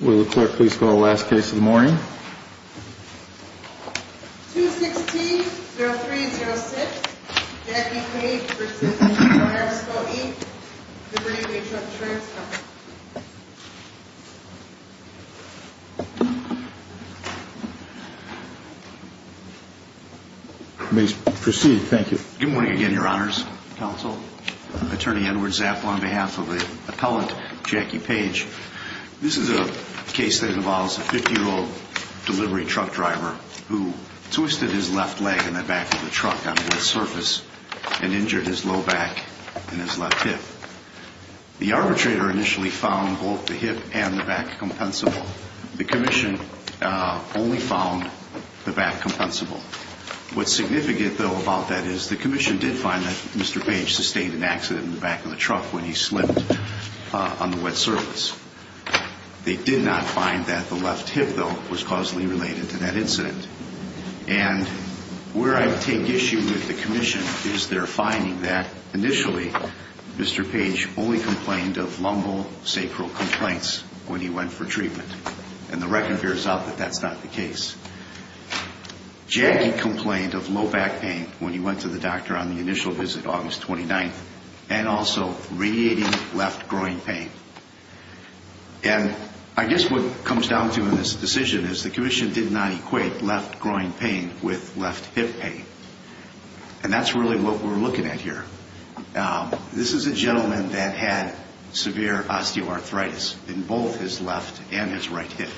Will the clerk please call the last case of the morning? 216-0306, Jackie Page, residing in Progress Co. E. Good evening, Trump Insurance Company. You may proceed. Thank you. Good morning again, Your Honors, Counsel, Attorney Edward Zapp, on behalf of the appellant, Jackie Page. This is a case that involves a 50-year-old delivery truck driver who twisted his left leg in the back of the truck on a wet surface and injured his low back and his left hip. The arbitrator initially found both the hip and the back compensable. The commission only found the back compensable. What's significant, though, about that is the commission did find that Mr. Page sustained an accident in the back of the truck when he slipped on the wet surface. They did not find that the left hip, though, was causally related to that incident. And where I take issue with the commission is their finding that, initially, Mr. Page only complained of lumbosacral complaints when he went for treatment, and the record bears out that that's not the case. Jackie complained of low back pain when he went to the doctor on the initial visit August 29th, and also radiating left groin pain. And I guess what comes down to in this decision is the commission did not equate left groin pain with left hip pain. And that's really what we're looking at here. This is a gentleman that had severe osteoarthritis in both his left and his right hip.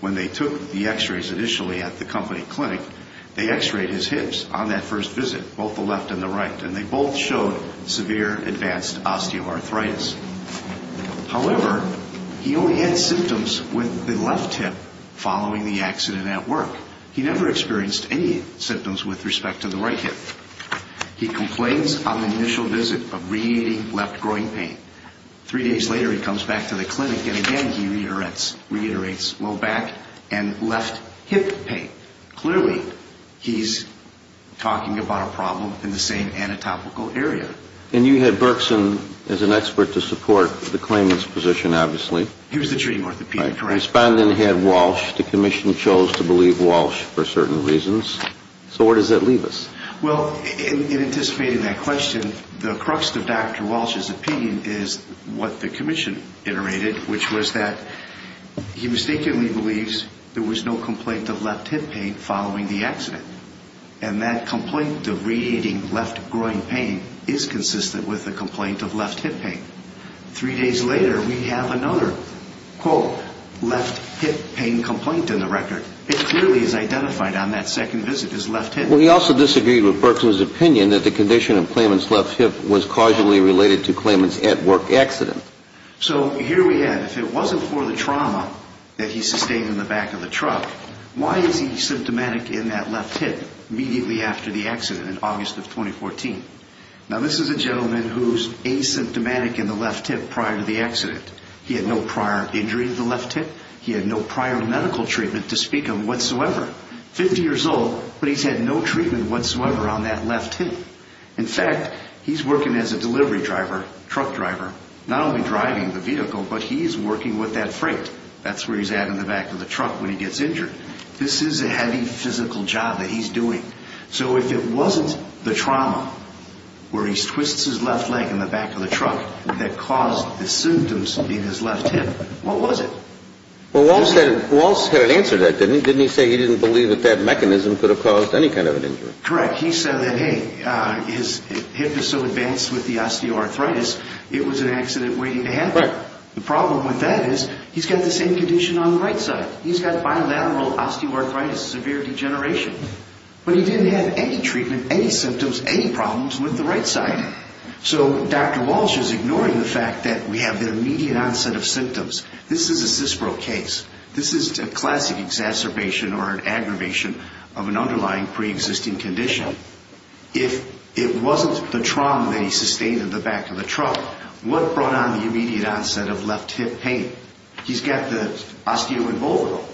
When they took the x-rays initially at the company clinic, they x-rayed his hips on that first visit, both the left and the right, and they both showed severe advanced osteoarthritis. However, he only had symptoms with the left hip following the accident at work. He never experienced any symptoms with respect to the right hip. He complains on the initial visit of radiating left groin pain. Three days later, he comes back to the clinic, and again, he reiterates low back and left hip pain. Clearly, he's talking about a problem in the same anatopical area. And you had Berkson as an expert to support the claimant's position, obviously. He was the treating orthopedic, correct. Respondent had Walsh. The commission chose to believe Walsh for certain reasons. So where does that leave us? Well, in anticipating that question, the crux of Dr. Walsh's opinion is what the commission iterated, which was that he mistakenly believes there was no complaint of left hip pain following the accident. And that complaint of radiating left groin pain is consistent with the complaint of left hip pain. Three days later, we have another, quote, left hip pain complaint in the record. It clearly is identified on that second visit as left hip pain. Well, he also disagreed with Berkson's opinion that the condition of claimant's left hip was causally related to claimant's at-work accident. So here we have, if it wasn't for the trauma that he sustained in the back of the truck, why is he symptomatic in that left hip immediately after the accident in August of 2014? Now, this is a gentleman who's asymptomatic in the left hip prior to the accident. He had no prior injury to the left hip. He had no prior medical treatment to speak of whatsoever. Fifty years old, but he's had no treatment whatsoever on that left hip. In fact, he's working as a delivery driver, truck driver, not only driving the vehicle, but he's working with that freight. That's where he's at in the back of the truck when he gets injured. This is a heavy physical job that he's doing. So if it wasn't the trauma where he twists his left leg in the back of the truck that caused the symptoms in his left hip, what was it? Well, Walsh had an answer to that, didn't he? You say he didn't believe that that mechanism could have caused any kind of an injury. Correct. He said that, hey, his hip is so advanced with the osteoarthritis, it was an accident waiting to happen. The problem with that is he's got the same condition on the right side. He's got bilateral osteoarthritis, severe degeneration. But he didn't have any treatment, any symptoms, any problems with the right side. So Dr. Walsh is ignoring the fact that we have the immediate onset of symptoms. This is a cispro case. This is a classic exacerbation or an aggravation of an underlying preexisting condition. If it wasn't the trauma that he sustained in the back of the truck, what brought on the immediate onset of left hip pain? He's got the osteoembolism.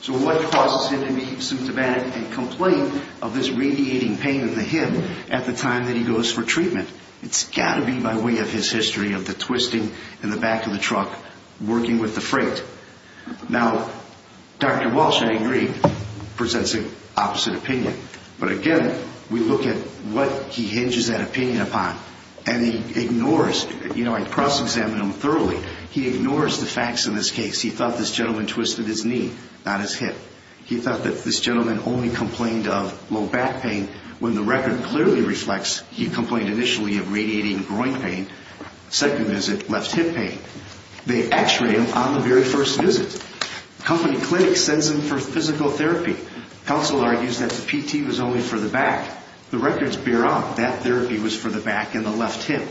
So what causes him to be symptomatic and complain of this radiating pain in the hip at the time that he goes for treatment? It's got to be by way of his history of the twisting in the back of the truck working with the freight. Now, Dr. Walsh, I agree, presents an opposite opinion. But again, we look at what he hinges that opinion upon, and he ignores it. You know, I cross-examine him thoroughly. He ignores the facts in this case. He thought this gentleman twisted his knee, not his hip. He thought that this gentleman only complained of low back pain when the record clearly reflects he complained initially of radiating groin pain, second visit left hip pain. They x-ray him on the very first visit. Company clinic sends him for physical therapy. Counsel argues that the PT was only for the back. The records bear out that therapy was for the back and the left hip.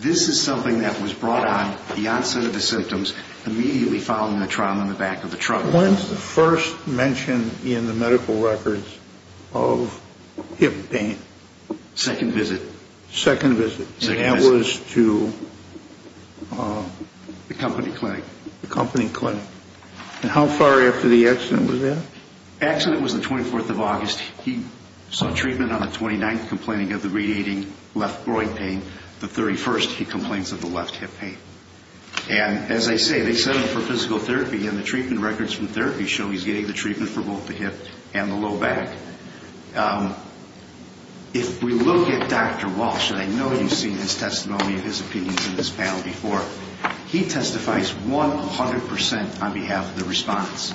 This is something that was brought on, the onset of the symptoms, immediately following the trauma in the back of the truck. When's the first mention in the medical records of hip pain? Second visit. Second visit. And that was to? The company clinic. The company clinic. And how far after the accident was that? The accident was the 24th of August. He saw treatment on the 29th, complaining of the radiating left groin pain. The 31st, he complains of the left hip pain. And as I say, they sent him for physical therapy, and the treatment records from therapy show he's getting the treatment for both the hip and the low back. If we look at Dr. Walsh, and I know you've seen his testimony and his opinions in this panel before, he testifies 100% on behalf of the respondents.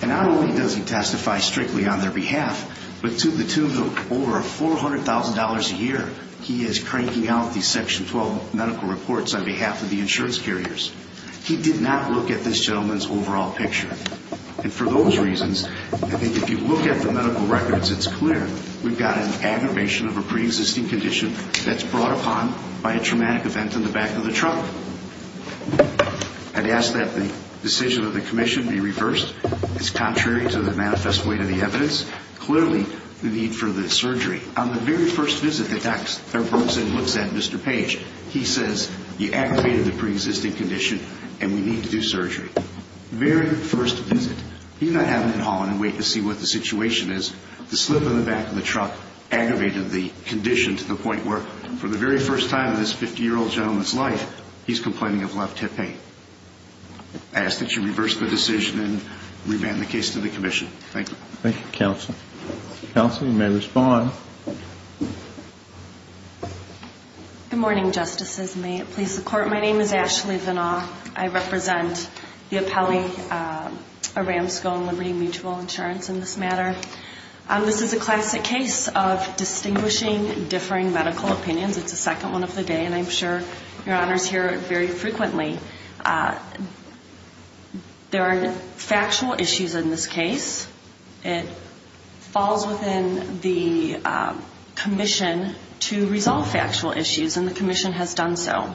And not only does he testify strictly on their behalf, but to the tune of over $400,000 a year, he is cranking out these Section 12 medical reports on behalf of the insurance carriers. He did not look at this gentleman's overall picture. And for those reasons, I think if you look at the medical records, it's clear we've got an aggravation of a preexisting condition that's brought upon by a traumatic event in the back of the trunk. I'd ask that the decision of the commission be reversed. It's contrary to the manifest way to the evidence. Clearly, the need for the surgery. On the very first visit that Dr. Bergeson looks at Mr. Page, he says, you aggravated the preexisting condition, and we need to do surgery. Very first visit. He did not have an inhale and wait to see what the situation is. The slip in the back of the truck aggravated the condition to the point where, for the very first time in this 50-year-old gentleman's life, he's complaining of left hip pain. I ask that you reverse the decision and remand the case to the commission. Thank you. Thank you, Counsel. Counsel, you may respond. Good morning, Justices. May it please the Court. My name is Ashley Vinaw. I represent the appellee, Aramsco and Liberty Mutual Insurance, in this matter. This is a classic case of distinguishing, differing medical opinions. It's the second one of the day, and I'm sure Your Honors hear it very frequently. There are factual issues in this case. It falls within the commission to resolve factual issues, and the commission has done so.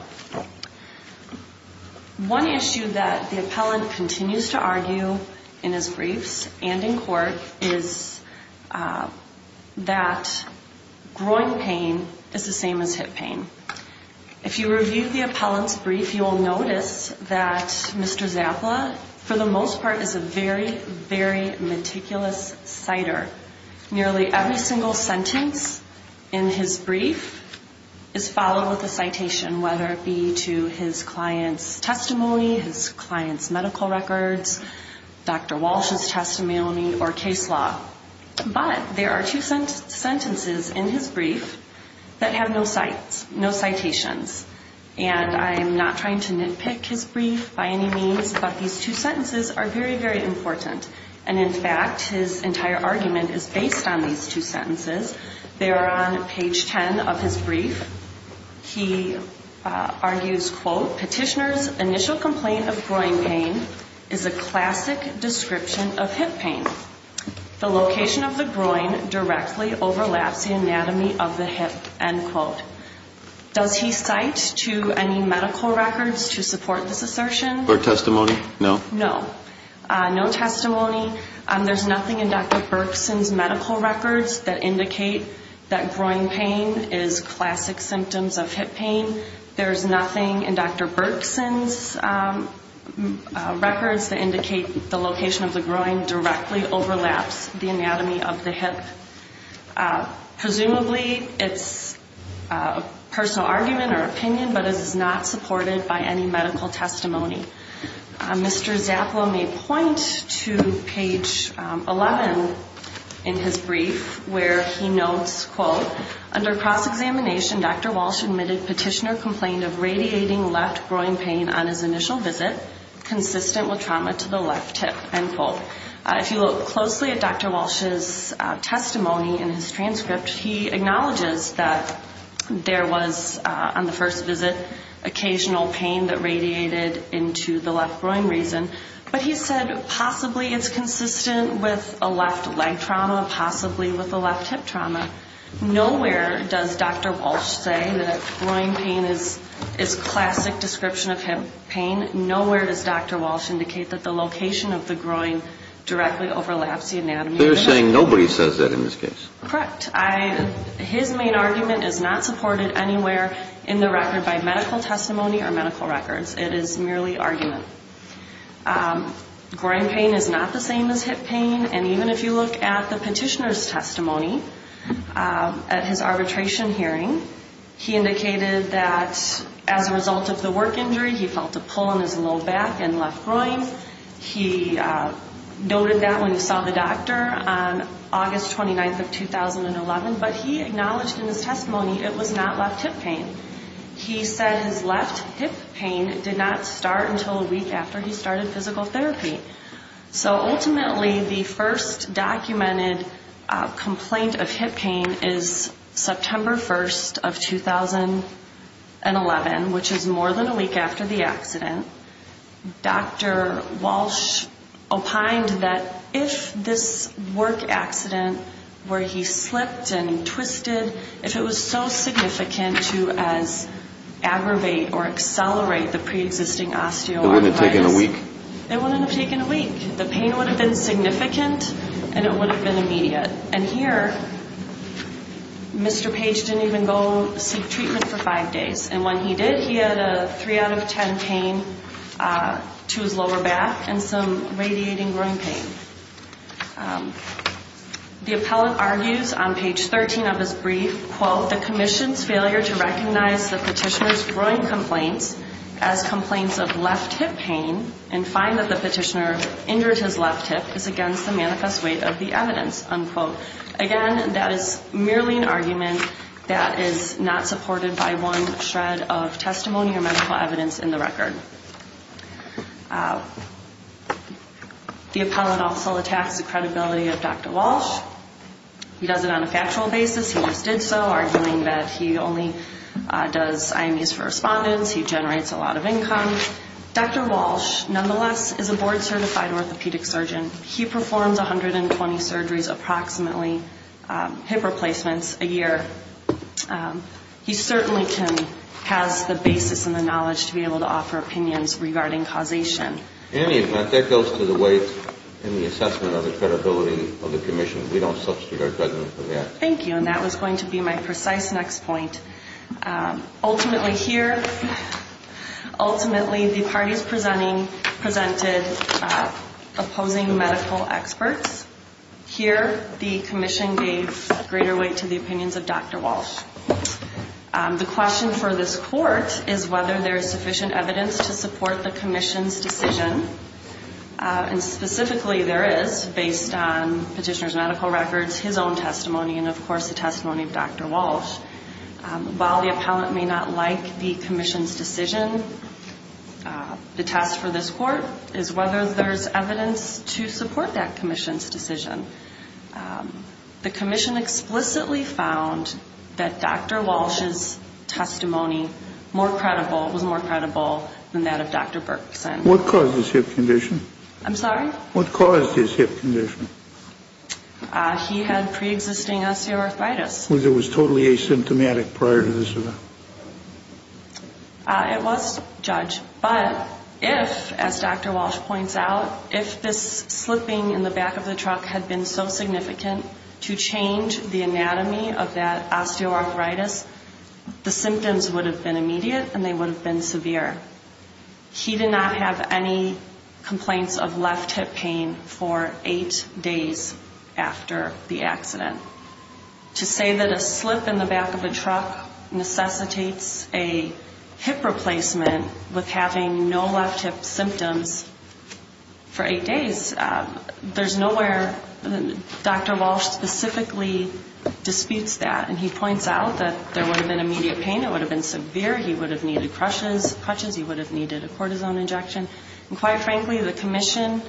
One issue that the appellant continues to argue in his briefs and in court is that groin pain is the same as hip pain. If you review the appellant's brief, you will notice that Mr. Zappala, for the most part, is a very, very meticulous citer. Nearly every single sentence in his brief is followed with a citation, whether it be to his client's testimony, his client's medical records, Dr. Walsh's testimony, or case law. But there are two sentences in his brief that have no cites, no citations. And I'm not trying to nitpick his brief by any means, but these two sentences are very, very important. And, in fact, his entire argument is based on these two sentences. They are on page 10 of his brief. He argues, quote, petitioner's initial complaint of groin pain is a classic description of hip pain. The location of the groin directly overlaps the anatomy of the hip, end quote. Does he cite to any medical records to support this assertion? Or testimony? No? No. No testimony. There's nothing in Dr. Berkson's medical records that indicate that groin pain is classic symptoms of hip pain. There's nothing in Dr. Berkson's records that indicate the location of the groin directly overlaps the anatomy of the hip. Presumably it's a personal argument or opinion, but it is not supported by any medical testimony. Mr. Zappala may point to page 11 in his brief where he notes, quote, under cross-examination, Dr. Walsh admitted petitioner complained of radiating left groin pain on his initial visit, consistent with trauma to the left hip, end quote. If you look closely at Dr. Walsh's testimony in his transcript, he acknowledges that there was, on the first visit, occasional pain that radiated into the left groin reason. But he said possibly it's consistent with a left leg trauma, possibly with a left hip trauma. Nowhere does Dr. Walsh say that groin pain is classic description of hip pain. Nowhere does Dr. Walsh indicate that the location of the groin directly overlaps the anatomy of the hip. So you're saying nobody says that in this case? Correct. His main argument is not supported anywhere in the record by medical testimony or medical records. It is merely argument. Groin pain is not the same as hip pain. And even if you look at the petitioner's testimony at his arbitration hearing, he indicated that as a result of the work injury, he felt a pull on his low back and left groin. He noted that when he saw the doctor on August 29th of 2011. But he acknowledged in his testimony it was not left hip pain. He said his left hip pain did not start until a week after he started physical therapy. So ultimately the first documented complaint of hip pain is September 1st of 2011, when Dr. Walsh opined that if this work accident where he slipped and twisted, if it was so significant to as aggravate or accelerate the preexisting osteoarthritis. It wouldn't have taken a week? It wouldn't have taken a week. The pain would have been significant and it would have been immediate. And here Mr. Page didn't even go seek treatment for five days. And when he did, he had a three out of ten pain to his lower back and some radiating groin pain. The appellant argues on page 13 of his brief, quote, the commission's failure to recognize the petitioner's groin complaints as complaints of left hip pain and find that the petitioner injured his left hip is against the manifest weight of the evidence, unquote. Again, that is merely an argument that is not supported by one shred of testimony or medical evidence in the record. The appellant also attacks the credibility of Dr. Walsh. He does it on a factual basis. He just did so, arguing that he only does IMEs for respondents. He generates a lot of income. Dr. Walsh, nonetheless, is a board-certified orthopedic surgeon. He performs 120 surgeries approximately, hip replacements a year. He certainly has the basis and the knowledge to be able to offer opinions regarding causation. In any event, that goes to the weight and the assessment of the credibility of the commission. We don't substitute our judgment for that. Thank you. And that was going to be my precise next point. Ultimately, here, ultimately, the parties presenting presented opposing medical experts. Here, the commission gave greater weight to the opinions of Dr. Walsh. The question for this court is whether there is sufficient evidence to support the commission's decision. And specifically, there is, based on petitioner's medical records, his own testimony, and of course the testimony of Dr. Walsh. While the appellant may not like the commission's decision, the test for this court is whether there is evidence to support that commission's decision. The commission explicitly found that Dr. Walsh's testimony was more credible than that of Dr. Berkson. What caused his hip condition? I'm sorry? What caused his hip condition? He had pre-existing osteoarthritis. It was totally asymptomatic prior to this event? It was, Judge. But if, as Dr. Walsh points out, if this slipping in the back of the truck had been so significant to change the anatomy of that osteoarthritis, the symptoms would have been immediate and they would have been severe. He did not have any complaints of left hip pain for eight days after the accident. To say that a slip in the back of a truck necessitates a hip replacement with having no left hip symptoms for eight days, there's nowhere Dr. Walsh specifically disputes that. And he points out that there would have been immediate pain, it would have been severe, he would have needed crutches, he would have needed a cortisone injection. And quite frankly, the commission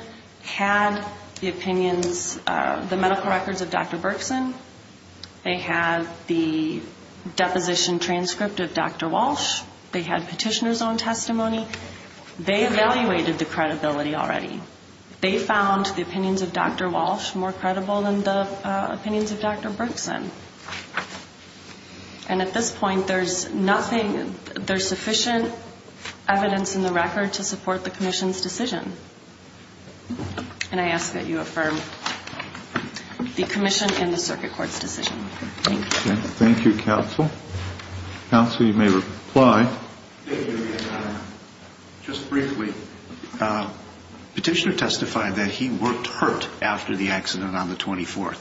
had the opinions, the medical records of Dr. Berkson. They had the deposition transcript of Dr. Walsh. They had petitioner's own testimony. They evaluated the credibility already. They found the opinions of Dr. Walsh more credible than the opinions of Dr. Berkson. And at this point, there's nothing, there's sufficient evidence in the record to support the commission's decision. And I ask that you affirm the commission and the circuit court's decision. Thank you. Thank you, counsel. Counsel, you may reply. Thank you. Just briefly, petitioner testified that he worked hurt after the accident on the 24th.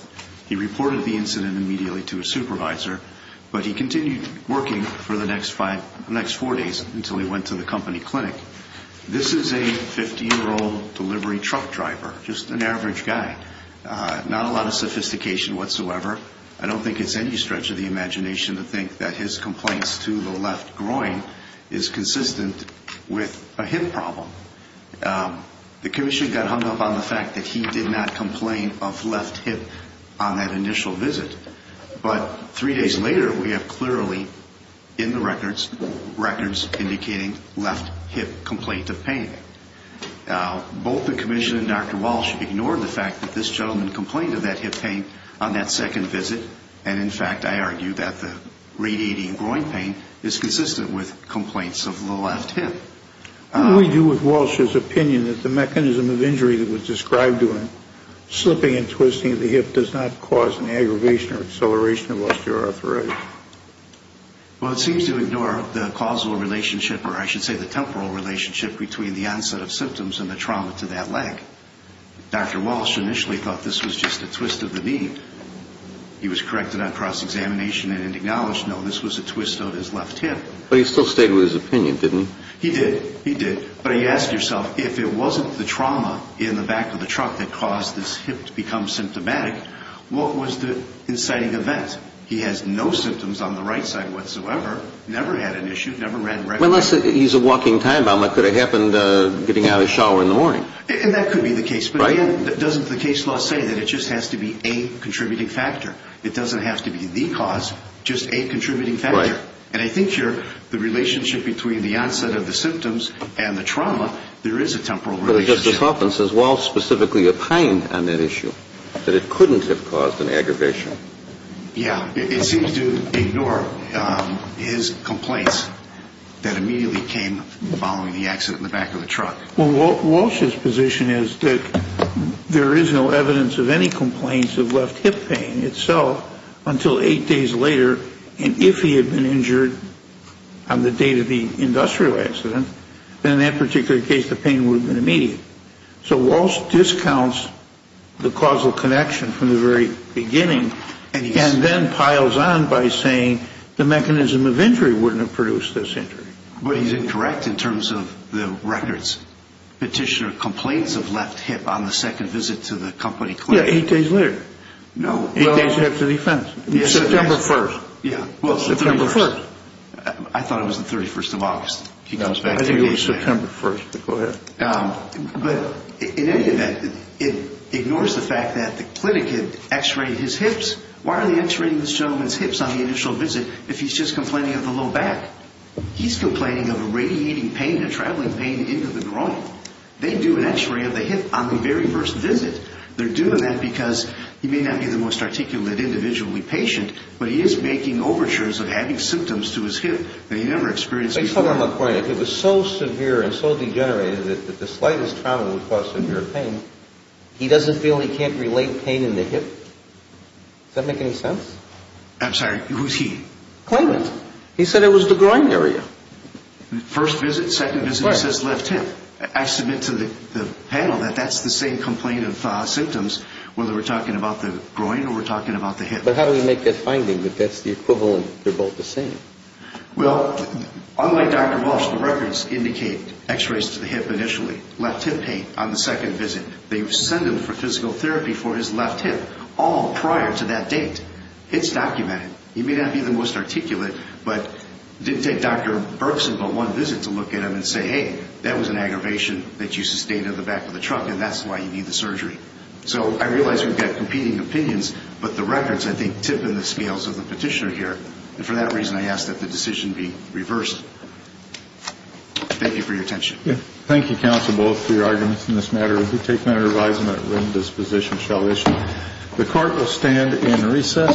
He reported the incident immediately to his supervisor, but he continued working for the next four days until he went to the company clinic. This is a 50-year-old delivery truck driver, just an average guy, not a lot of sophistication whatsoever. I don't think it's any stretch of the imagination to think that his complaints to the left groin is consistent with a hip problem. The commission got hung up on the fact that he did not complain of left hip on that initial visit. But three days later, we have clearly in the records records indicating left hip complaint of pain. Both the commission and Dr. Walsh ignored the fact that this gentleman complained of that hip pain on that second visit. And, in fact, I argue that the radiating groin pain is consistent with complaints of the left hip. What do we do with Walsh's opinion that the mechanism of injury that was described to him, slipping and twisting of the hip does not cause an aggravation or acceleration of osteoarthritis? Well, it seems to ignore the causal relationship, or I should say the temporal relationship, between the onset of symptoms and the trauma to that leg. Dr. Walsh initially thought this was just a twist of the knee. He was corrected on cross-examination and acknowledged, no, this was a twist of his left hip. But he still stated his opinion, didn't he? He did. He did. But he asked himself, if it wasn't the trauma in the back of the truck that caused this hip to become symptomatic, what was the inciting event? He has no symptoms on the right side whatsoever, never had an issue, never ran records. Unless he's a walking time bomb, what could have happened getting out of the shower in the morning? And that could be the case. But, again, doesn't the case law say that it just has to be a contributing factor? It doesn't have to be the cause, just a contributing factor. And I think here the relationship between the onset of the symptoms and the trauma, there is a temporal relationship. But Justice Hoffman says Walsh specifically opined on that issue, that it couldn't have caused an aggravation. Yeah, it seems to ignore his complaints that immediately came following the accident in the back of the truck. Well, Walsh's position is that there is no evidence of any complaints of left hip pain itself until eight days later, and if he had been injured on the date of the industrial accident, then in that particular case the pain would have been immediate. So Walsh discounts the causal connection from the very beginning, and then piles on by saying the mechanism of injury wouldn't have produced this injury. But he's incorrect in terms of the records. Petitioner complains of left hip on the second visit to the company clinic. Yeah, eight days later. No. Eight days after the offense. September 1st. Yeah. September 1st. I thought it was the 31st of August. I think it was September 1st. Go ahead. But in any event, it ignores the fact that the clinic had x-rayed his hips. Why are they x-raying this gentleman's hips on the initial visit if he's just complaining of the low back? He's complaining of a radiating pain, a traveling pain into the groin. They do an x-ray of the hip on the very first visit. They're doing that because he may not be the most articulate, individually patient, but he is making overtures of having symptoms to his hip that he never experienced before. Based on my point, if it was so severe and so degenerated that the slightest trauma would cause severe pain, he doesn't feel he can't relate pain in the hip? Does that make any sense? I'm sorry. Who's he? Claimant. He said it was the groin area. First visit, second visit, he says left hip. I submit to the panel that that's the same complaint of symptoms, whether we're talking about the groin or we're talking about the hip. But how do we make that finding that that's the equivalent, they're both the same? Well, unlike Dr. Walsh, the records indicate x-rays to the hip initially, left hip pain on the second visit. They send him for physical therapy for his left hip all prior to that date. It's documented. He may not be the most articulate, but it didn't take Dr. Bergson but one visit to look at him and say, hey, that was an aggravation that you sustained on the back of the truck, and that's why you need the surgery. So I realize we've got competing opinions, but the records, I think, tip in the scales of the petitioner here. And for that reason, I ask that the decision be reversed. Thank you for your attention. Thank you, counsel, both for your arguments in this matter. We take notary advisement when this position shall issue. The court will stand in recess.